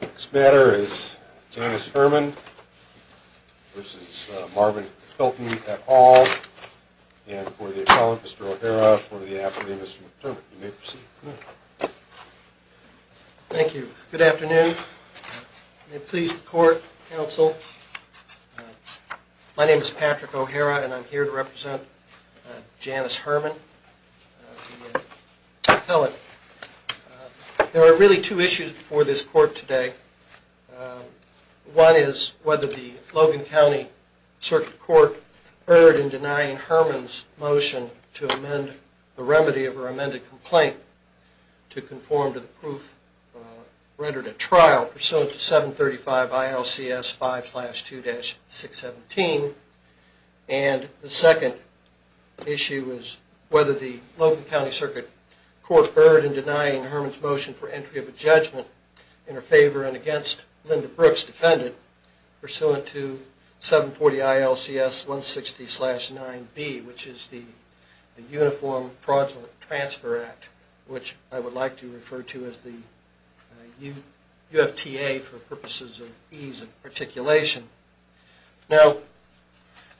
Next matter is Janice Herman v. Marvin Hilton, et al., and for the appellant, Mr. O'Hara, for the affidavit, Mr. McDermott. You may proceed. Thank you. Good afternoon. May it please the court, counsel, my name is Patrick O'Hara and I'm here to represent Janice Herman, the appellant. There are really two issues before this court today. One is whether the Logan County Circuit Court erred in denying Herman's motion to amend the remedy of her amended complaint to conform to the proof rendered at trial pursuant to 735 ILCS 5-2-617. And the second issue is whether the Logan County Circuit Court erred in denying Herman's motion for entry of a judgment in her favor and against Linda Brooks, defendant, pursuant to 740 ILCS 160-9B, which is the Uniform Fraud Transfer Act, which I would like to refer to as the UFTA for purposes of ease of articulation. Now,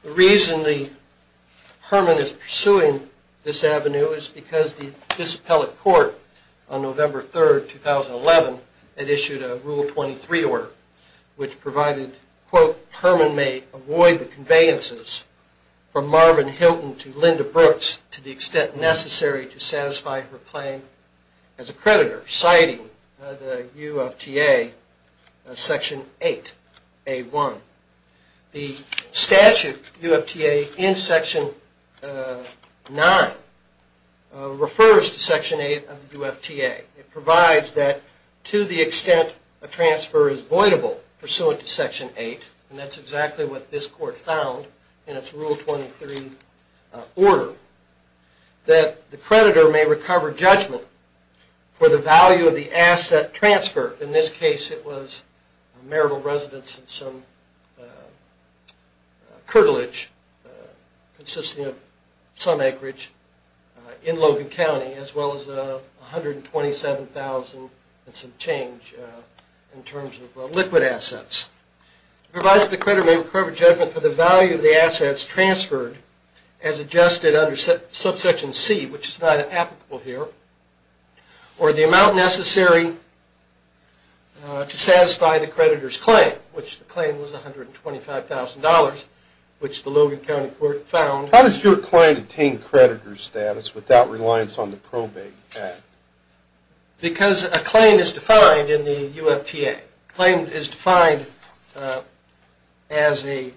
the reason Herman is pursuing this avenue is because the Disappellate Court on November 3, 2011, had issued a Rule 23 order which provided, quote, Herman may avoid the conveyances from Marvin Hilton to Linda Brooks to the extent necessary to satisfy her claim as a creditor, citing the UFTA Section 8A1. The statute UFTA in Section 9 refers to Section 8 of the UFTA. It provides that to the extent a transfer is voidable pursuant to Section 8, and that's exactly what this court found in its Rule 23 order, that the creditor may recover judgment for the value of the asset transfer. In this case, it was marital residence and some curtilage consisting of some acreage in Logan County, as well as $127,000 and some change in terms of liquid assets. It provides that the creditor may recover judgment for the value of the assets transferred as adjusted under Subsection C, which is not applicable here, or the amount necessary to satisfy the creditor's claim, which the claim was $125,000, which the Logan County court found. How does your client attain creditor status without reliance on the Probate Act? Because a claim is defined in the UFTA. A claim is defined as a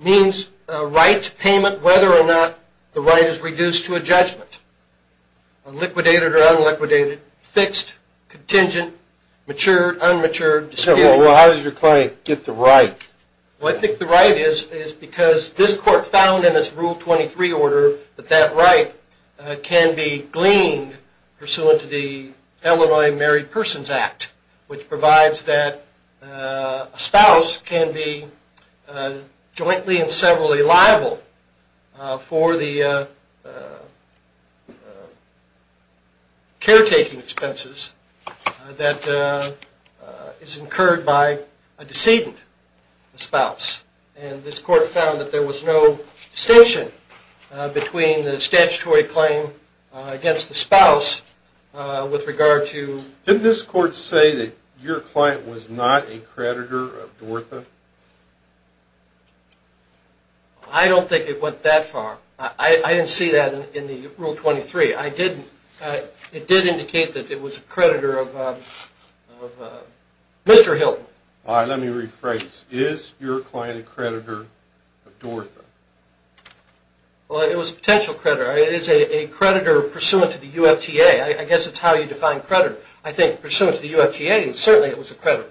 means, a right, payment, whether or not the right is reduced to a judgment, liquidated or unliquidated, fixed, contingent, matured, unmatured, disputed. Well, how does your client get the right? Well, I think the right is because this court found in its Rule 23 order that that right can be gleaned pursuant to the Illinois Married Persons Act, which provides that a spouse can be jointly and severally liable for the caretaking expenses that is incurred by a decedent. And this court found that there was no distinction between the statutory claim against the spouse with regard to... Did this court say that your client was not a creditor of Dortha? I don't think it went that far. I didn't see that in the Rule 23. It did indicate that it was a creditor of Mr. Hilton. All right, let me rephrase. Is your client a creditor of Dortha? Well, it was a potential creditor. It is a creditor pursuant to the UFTA. I guess it's how you define creditor. I think pursuant to the UFTA, certainly it was a creditor.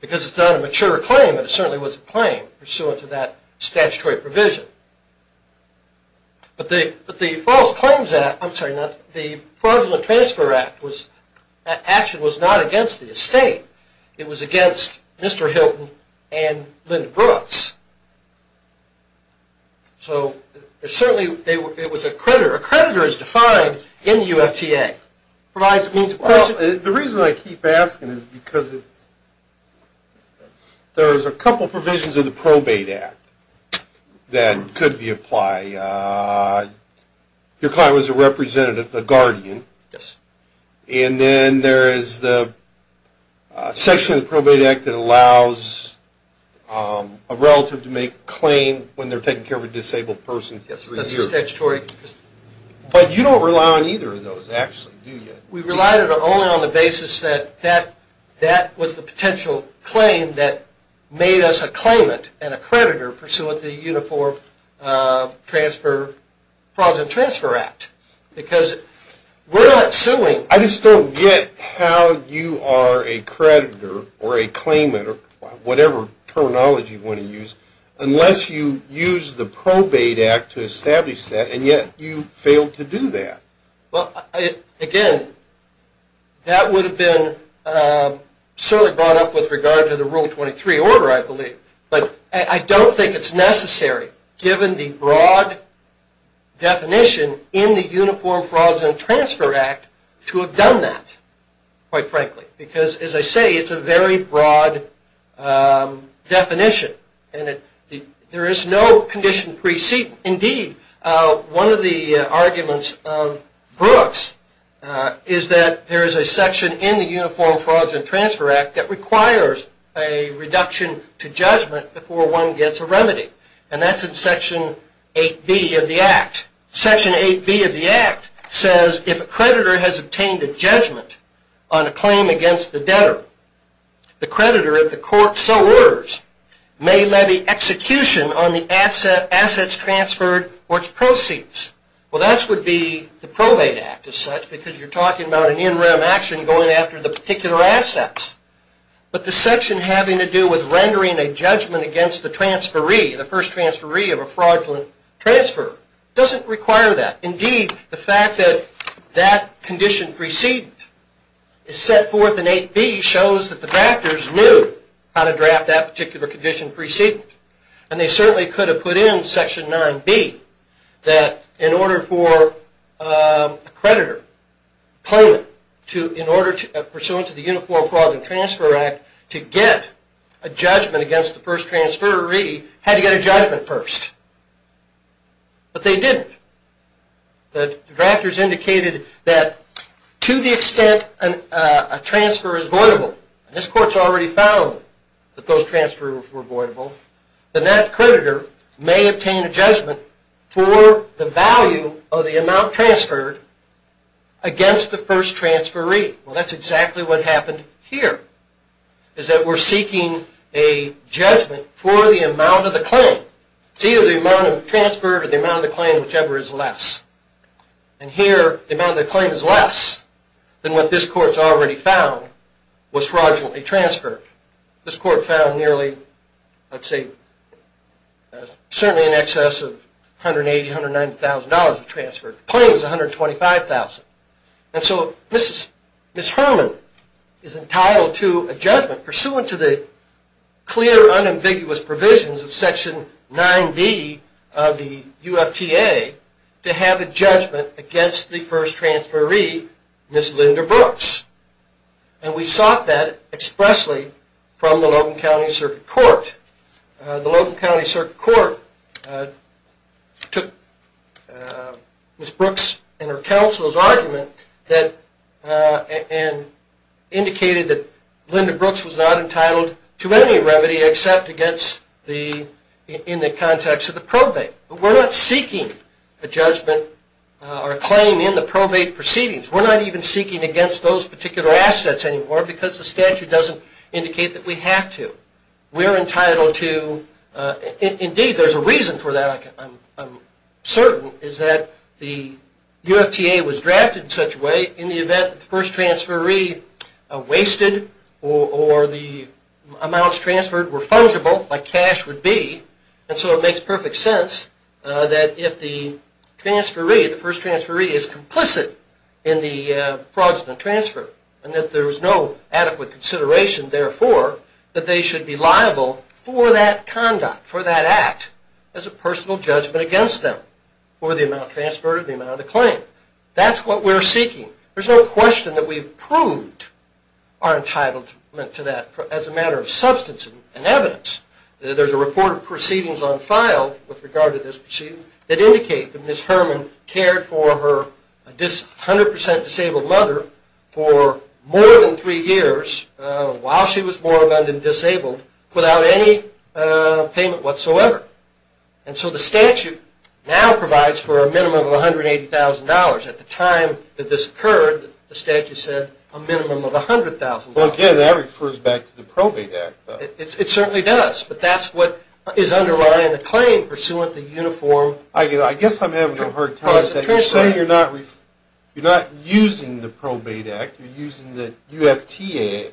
Because it's not a mature claim, but it certainly was a claim pursuant to that statutory provision. But the fraudulent transfer action was not against the estate. It was against Mr. Hilton and Linda Brooks. So certainly it was a creditor. A creditor is defined in the UFTA. Well, the reason I keep asking is because there's a couple provisions of the Probate Act that could be applied. Your client was a representative, a guardian. And then there is the section of the Probate Act that allows a relative to make a claim when they're taking care of a disabled person for a year. But you don't rely on either of those, actually, do you? We relied only on the basis that that was the potential claim that made us a claimant and a creditor pursuant to the Uniform Fraudulent Transfer Act. I just don't get how you are a creditor or a claimant, or whatever terminology you want to use, unless you use the Probate Act to establish that, and yet you failed to do that. Well, again, that would have been sort of brought up with regard to the Rule 23 order, I believe. But I don't think it's necessary, given the broad definition in the Uniform Fraudulent Transfer Act, to have done that, quite frankly. Because, as I say, it's a very broad definition. There is no condition preceding it. Indeed, one of the arguments of Brooks is that there is a section in the Uniform Fraudulent Transfer Act that requires a reduction to judgment before one gets a remedy. And that's in Section 8B of the Act. Section 8B of the Act says, if a creditor has obtained a judgment on a claim against the debtor, the creditor, if the court so orders, may levy execution on the assets transferred or its proceeds. Well, that would be the Probate Act, as such, because you're talking about an in-rem action going after the particular assets. But the section having to do with rendering a judgment against the transferee, the first transferee of a fraudulent transfer, doesn't require that. Indeed, the fact that that condition preceding it is set forth in 8B shows that the drafters knew how to draft that particular condition preceding it. And they certainly could have put in Section 9B that, in order for a creditor, pursuant to the Uniform Fraudulent Transfer Act, to get a judgment against the first transferee, had to get a judgment first. But they didn't. The drafters indicated that, to the extent a transfer is voidable, and this court's already found that those transfers were voidable, then that creditor may obtain a judgment for the value of the amount transferred against the first transferee. Well, that's exactly what happened here, is that we're seeking a judgment for the amount of the claim. It's either the amount of transfer or the amount of the claim, whichever is less. And here, the amount of the claim is less than what this court's already found was fraudulently transferred. This court found nearly, I'd say, certainly in excess of $180,000, $190,000 of transfer. The claim was $125,000. And so Ms. Herman is entitled to a judgment, pursuant to the clear, unambiguous provisions of Section 9B of the UFTA, to have a judgment against the first transferee, Ms. Linda Brooks. And we sought that expressly from the Logan County Circuit Court. The Logan County Circuit Court took Ms. Brooks and her counsel's argument and indicated that Linda Brooks was not entitled to any remedy except in the context of the probate. But we're not seeking a judgment or a claim in the probate proceedings. We're not even seeking against those particular assets anymore because the statute doesn't indicate that we have to. We're entitled to – indeed, there's a reason for that, I'm certain, is that the UFTA was drafted in such a way in the event that the first transferee wasted or the amounts transferred were fungible, like cash would be. And so it makes perfect sense that if the transferee, the first transferee, is complicit in the fraudulent transfer and that there's no adequate consideration, therefore, that they should be liable for that conduct, for that act, as a personal judgment against them for the amount transferred and the amount of the claim. That's what we're seeking. There's no question that we've proved our entitlement to that as a matter of substance and evidence. There's a report of proceedings on file with regard to this proceeding that indicate that Ms. Herman cared for her 100% disabled mother for more than three years while she was born and disabled without any payment whatsoever. And so the statute now provides for a minimum of $180,000.00. At the time that this occurred, the statute said a minimum of $100,000.00. Well, again, that refers back to the Probate Act. It certainly does, but that's what is underlying the claim pursuant to uniform – Well, I guess I'm having a hard time – Well, it's interesting you're not – you're not using the Probate Act. You're using the UFTA,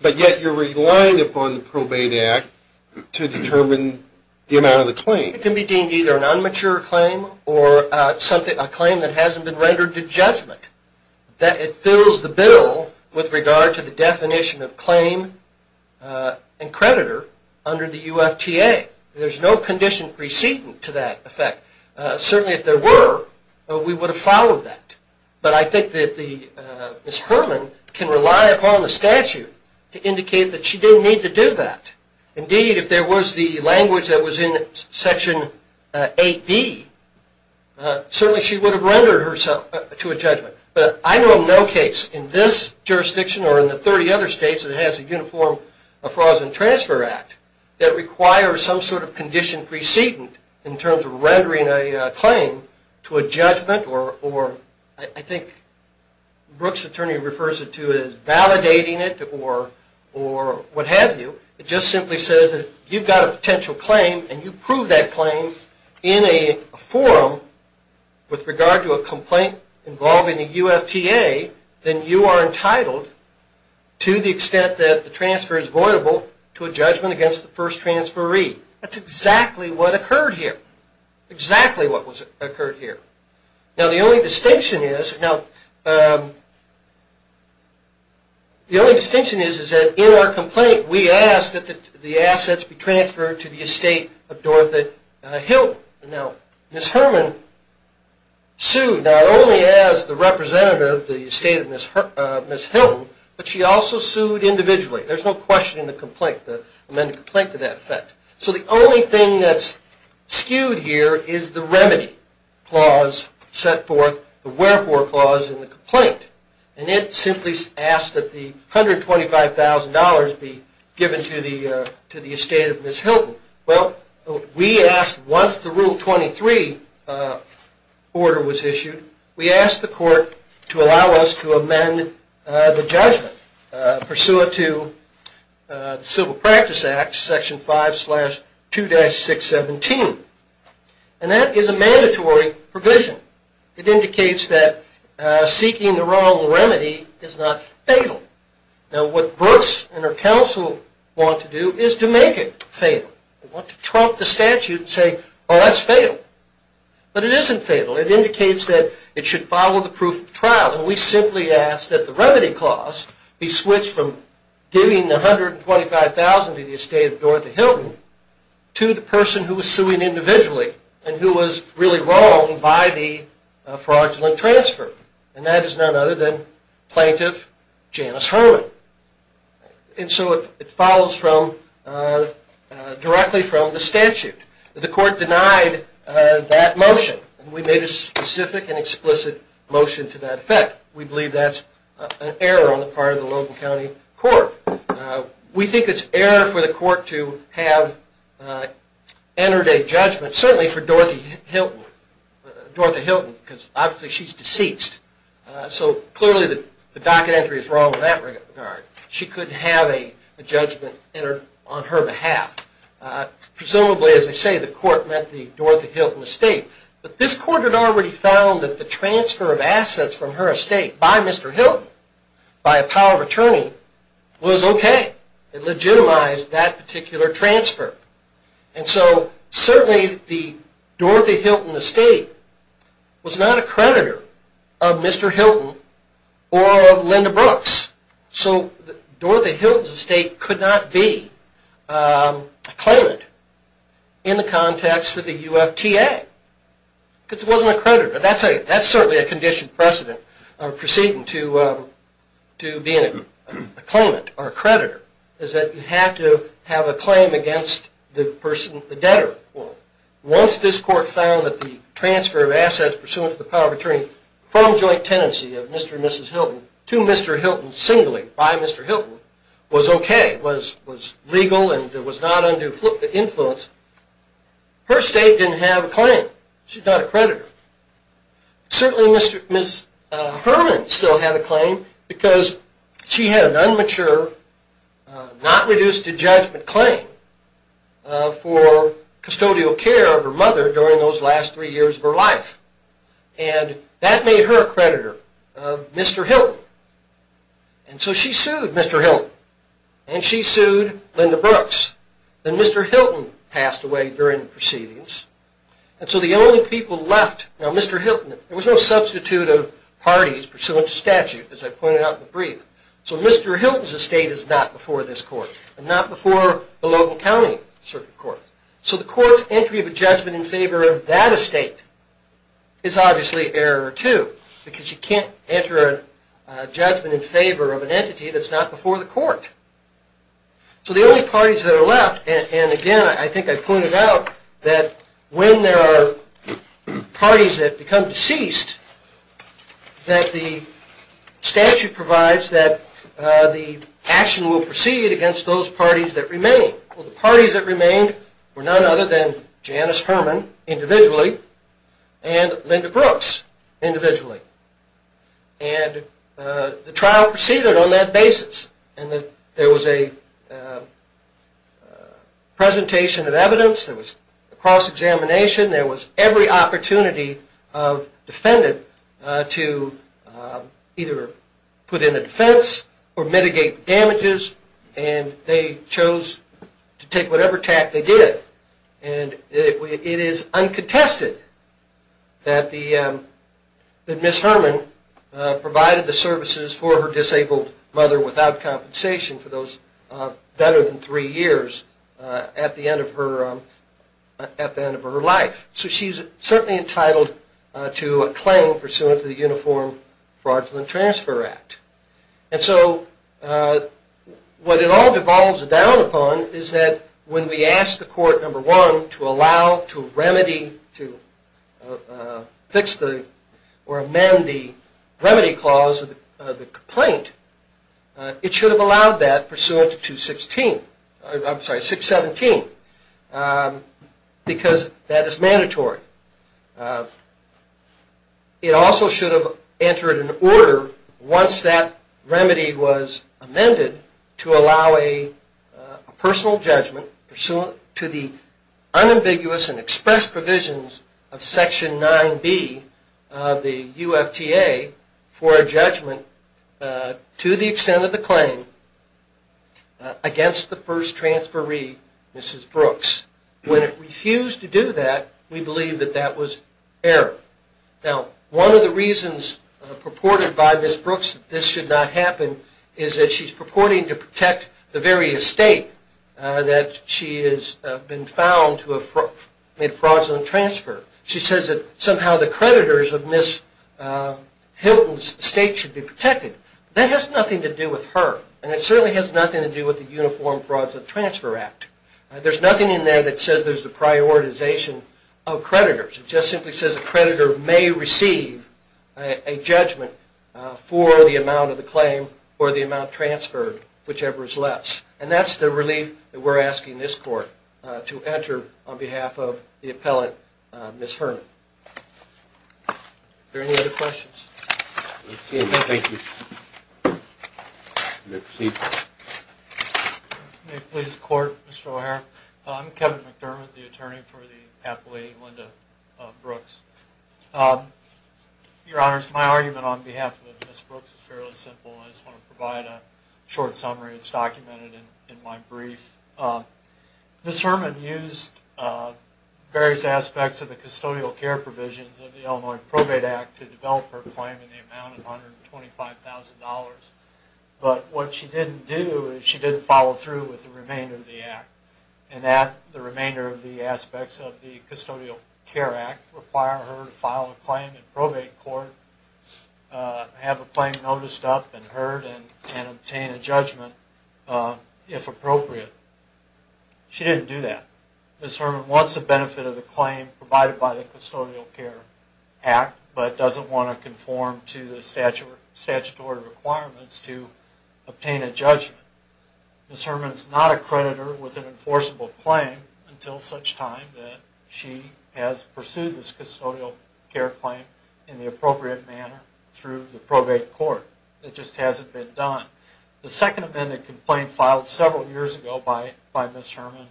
but yet you're relying upon the Probate Act to determine the amount of the claim. It can be deemed either a non-mature claim or a claim that hasn't been rendered to judgment. It fills the bill with regard to the definition of claim and creditor under the UFTA. There's no condition preceding to that effect. Certainly, if there were, we would have followed that. But I think that Ms. Herman can rely upon the statute to indicate that she didn't need to do that. Indeed, if there was the language that was in Section 8B, certainly she would have rendered herself to a judgment. But I know of no case in this jurisdiction or in the 30 other states that has a Uniform Fraud and Transfer Act that requires some sort of condition preceding in terms of rendering a claim to a judgment or – I think Brooks' attorney refers to it as validating it or what have you. It just simply says that if you've got a potential claim and you prove that claim in a forum with regard to a complaint involving the UFTA, then you are entitled to the extent that the transfer is voidable to a judgment against the first transferee. That's exactly what occurred here. Exactly what occurred here. Now, the only distinction is that in our complaint, we asked that the assets be transferred to the estate of Dorothy Hilton. Now, Ms. Herman sued not only as the representative of the estate of Ms. Hilton, but she also sued individually. There's no question in the complaint, the amended complaint to that effect. So the only thing that's skewed here is the remedy clause set forth, the wherefore clause in the complaint. And it simply asks that the $125,000 be given to the estate of Ms. Hilton. Well, we asked once the Rule 23 order was issued, we asked the court to allow us to amend the judgment pursuant to the Civil Practice Act, Section 5-2-617. And that is a mandatory provision. It indicates that seeking the wrong remedy is not fatal. Now, what Brooks and her counsel want to do is to make it fatal. They want to trump the statute and say, oh, that's fatal. But it isn't fatal. It indicates that it should follow the proof of trial. And we simply ask that the remedy clause be switched from giving the $125,000 to the estate of Dorothy Hilton to the person who was suing individually and who was really wrong by the fraudulent transfer. And that is none other than Plaintiff Janice Herman. And so it follows directly from the statute. The court denied that motion. And we made a specific and explicit motion to that effect. We believe that's an error on the part of the Logan County Court. We think it's error for the court to have entered a judgment, certainly for Dorothy Hilton, because obviously she's deceased. So clearly the docket entry is wrong in that regard. She couldn't have a judgment entered on her behalf. Presumably, as they say, the court met the Dorothy Hilton estate. But this court had already found that the transfer of assets from her estate by Mr. Hilton, by a power of attorney, was okay. It legitimized that particular transfer. And so certainly the Dorothy Hilton estate was not a creditor of Mr. Hilton or of Linda Brooks. So Dorothy Hilton's estate could not be a claimant in the context of the UFTA. Because it wasn't a creditor. That's certainly a conditioned precedent, proceeding to being a claimant or a creditor, is that you have to have a claim against the person, the debtor. Once this court found that the transfer of assets pursuant to the power of attorney from joint tenancy of Mr. and Mrs. Hilton to Mr. Hilton singly by Mr. Hilton was okay, was legal and was not under influence, her estate didn't have a claim. She's not a creditor. Certainly Ms. Herman still had a claim because she had an unmature, not reduced to judgment claim for custodial care of her mother during those last three years of her life. And that made her a creditor of Mr. Hilton. And so she sued Mr. Hilton. And she sued Linda Brooks. And Mr. Hilton passed away during the proceedings. And so the only people left, now Mr. Hilton, there was no substitute of parties pursuant to statute, as I pointed out in the brief. So Mr. Hilton's estate is not before this court. And not before the Logan County Circuit Court. So the court's entry of a judgment in favor of that estate is obviously error too because you can't enter a judgment in favor of an entity that's not before the court. So the only parties that are left, and again I think I pointed out that when there are parties that become deceased that the statute provides that the action will proceed against those parties that remain. Well, the parties that remained were none other than Janice Herman individually and Linda Brooks individually. And the trial proceeded on that basis. And there was a presentation of evidence. There was a cross-examination. There was every opportunity of defendant to either put in a defense or mitigate damages. And they chose to take whatever tact they did. And it is uncontested that Ms. Herman provided the services for her disabled mother without compensation for those better than three years at the end of her life. So she's certainly entitled to a claim pursuant to the Uniform Fraudulent Transfer Act. And so what it all devolves down upon is that when we ask the court, number one, to allow, to remedy, to fix or amend the remedy clause of the complaint, it should have allowed that pursuant to 617 because that is mandatory. It also should have entered an order once that remedy was amended to allow a personal judgment pursuant to the unambiguous and expressed provisions of Section 9B of the UFTA for a judgment to the extent of the claim against the first transferee, Mrs. Brooks. When it refused to do that, we believe that that was error. Now, one of the reasons purported by Mrs. Brooks that this should not happen is that she's purporting to protect the very estate that she has been found to have made fraudulent transfer. She says that somehow the creditors of Ms. Hilton's estate should be protected. That has nothing to do with her. And it certainly has nothing to do with the Uniform Fraudulent Transfer Act. There's nothing in there that says there's a prioritization of creditors. It just simply says a creditor may receive a judgment for the amount of the claim or the amount transferred, whichever is less. And that's the relief that we're asking this court to enter on behalf of the appellant, Ms. Herman. Are there any other questions? Thank you. May it please the Court, Mr. O'Hara. I'm Kevin McDermott, the attorney for the appellee, Linda Brooks. Your Honors, my argument on behalf of Ms. Brooks is fairly simple. I just want to provide a short summary. It's documented in my brief. Ms. Herman used various aspects of the custodial care provisions of the Illinois Probate Act to develop her claim in the amount of $125,000. But what she didn't do is she didn't follow through with the remainder of the Act. And that the remainder of the aspects of the Custodial Care Act require her to file a claim in probate court, have a claim noticed up and heard, and obtain a judgment if appropriate. She didn't do that. Ms. Herman wants the benefit of the claim provided by the Custodial Care Act, but doesn't want to conform to the statutory requirements to obtain a judgment. Ms. Herman is not a creditor with an enforceable claim until such time that she has pursued this custodial care claim in the appropriate manner through the probate court. It just hasn't been done. The second amended complaint filed several years ago by Ms. Herman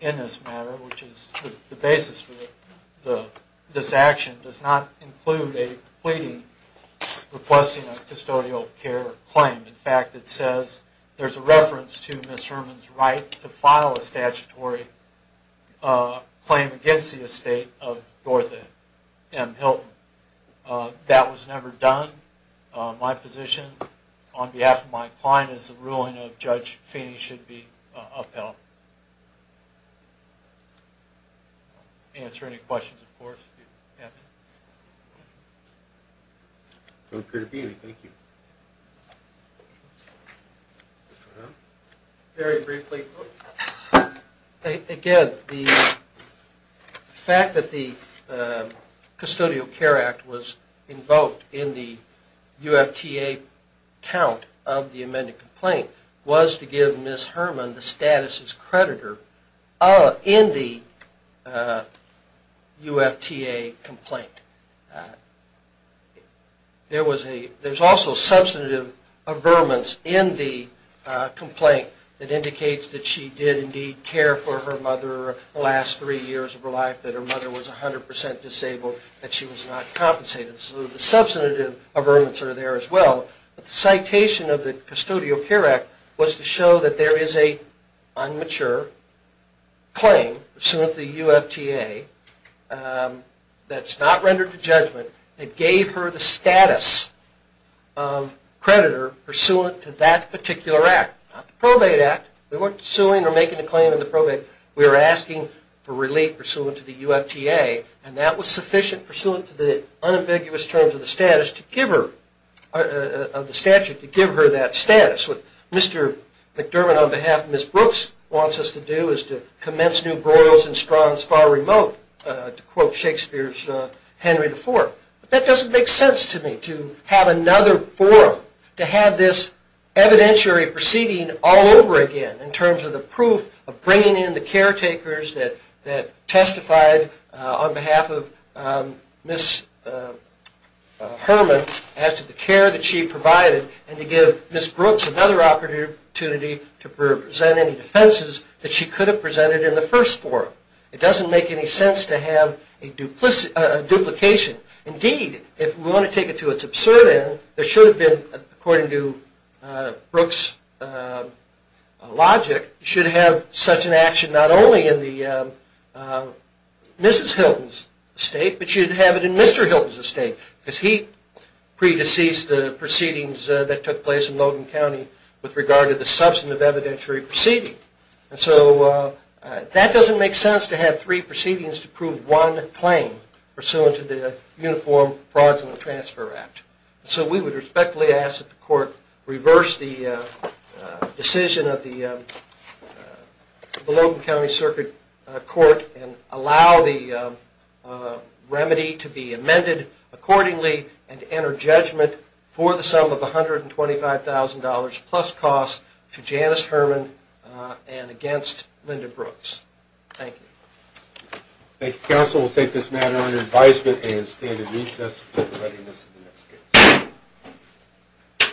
in this matter, which is the basis for this action, does not include a pleading requesting a custodial care claim. In fact, it says there's a reference to Ms. Herman's right to file a statutory claim against the estate of Dortha M. Hilton. That was never done. My position, on behalf of my client, is the ruling of Judge Feeney should be upheld. Answer any questions, of course, if you have any. I'm happy to be here. Thank you. Very briefly. Again, the fact that the Custodial Care Act was invoked in the UFTA count of the amended complaint was to give Ms. Herman the status as creditor in the UFTA complaint. There's also substantive averments in the complaint that indicates that she did indeed care for her mother the last three years of her life, that her mother was 100% disabled, that she was not compensated. So the substantive averments are there as well. The citation of the Custodial Care Act was to show that there is an unmature claim, pursuant to the UFTA, that's not rendered to judgment, that gave her the status of creditor pursuant to that particular act. Not the probate act. We weren't suing or making a claim in the probate. We were asking for relief pursuant to the UFTA, and that was sufficient pursuant to the unambiguous terms of the statute to give her that status. What Mr. McDermott on behalf of Ms. Brooks wants us to do is to commence new broils and straws far remote, to quote Shakespeare's Henry IV. That doesn't make sense to me, to have another forum, to have this evidentiary proceeding all over again in terms of the proof of bringing in the caretakers that testified on behalf of Ms. Herman as to the care that she provided, and to give Ms. Brooks another opportunity to present any defenses that she could have presented in the first forum. It doesn't make any sense to have a duplication. Indeed, if we want to take it to its absurd end, there should have been, according to Brooks' logic, should have such an action not only in Mrs. Hilton's estate, but should have it in Mr. Hilton's estate. Because he pre-deceased the proceedings that took place in Logan County with regard to the substantive evidentiary proceeding. So that doesn't make sense to have three proceedings to prove one claim pursuant to the Uniform Frauds and Transfer Act. So we would respectfully ask that the court reverse the decision of the Logan County Circuit Court and allow the remedy to be amended accordingly and to enter judgment for the sum of $125,000 plus costs to Janice Herman and against Linda Brooks. Thank you. Thank you, counsel. We'll take this matter under advisement and stand in recess until the readiness of the next case.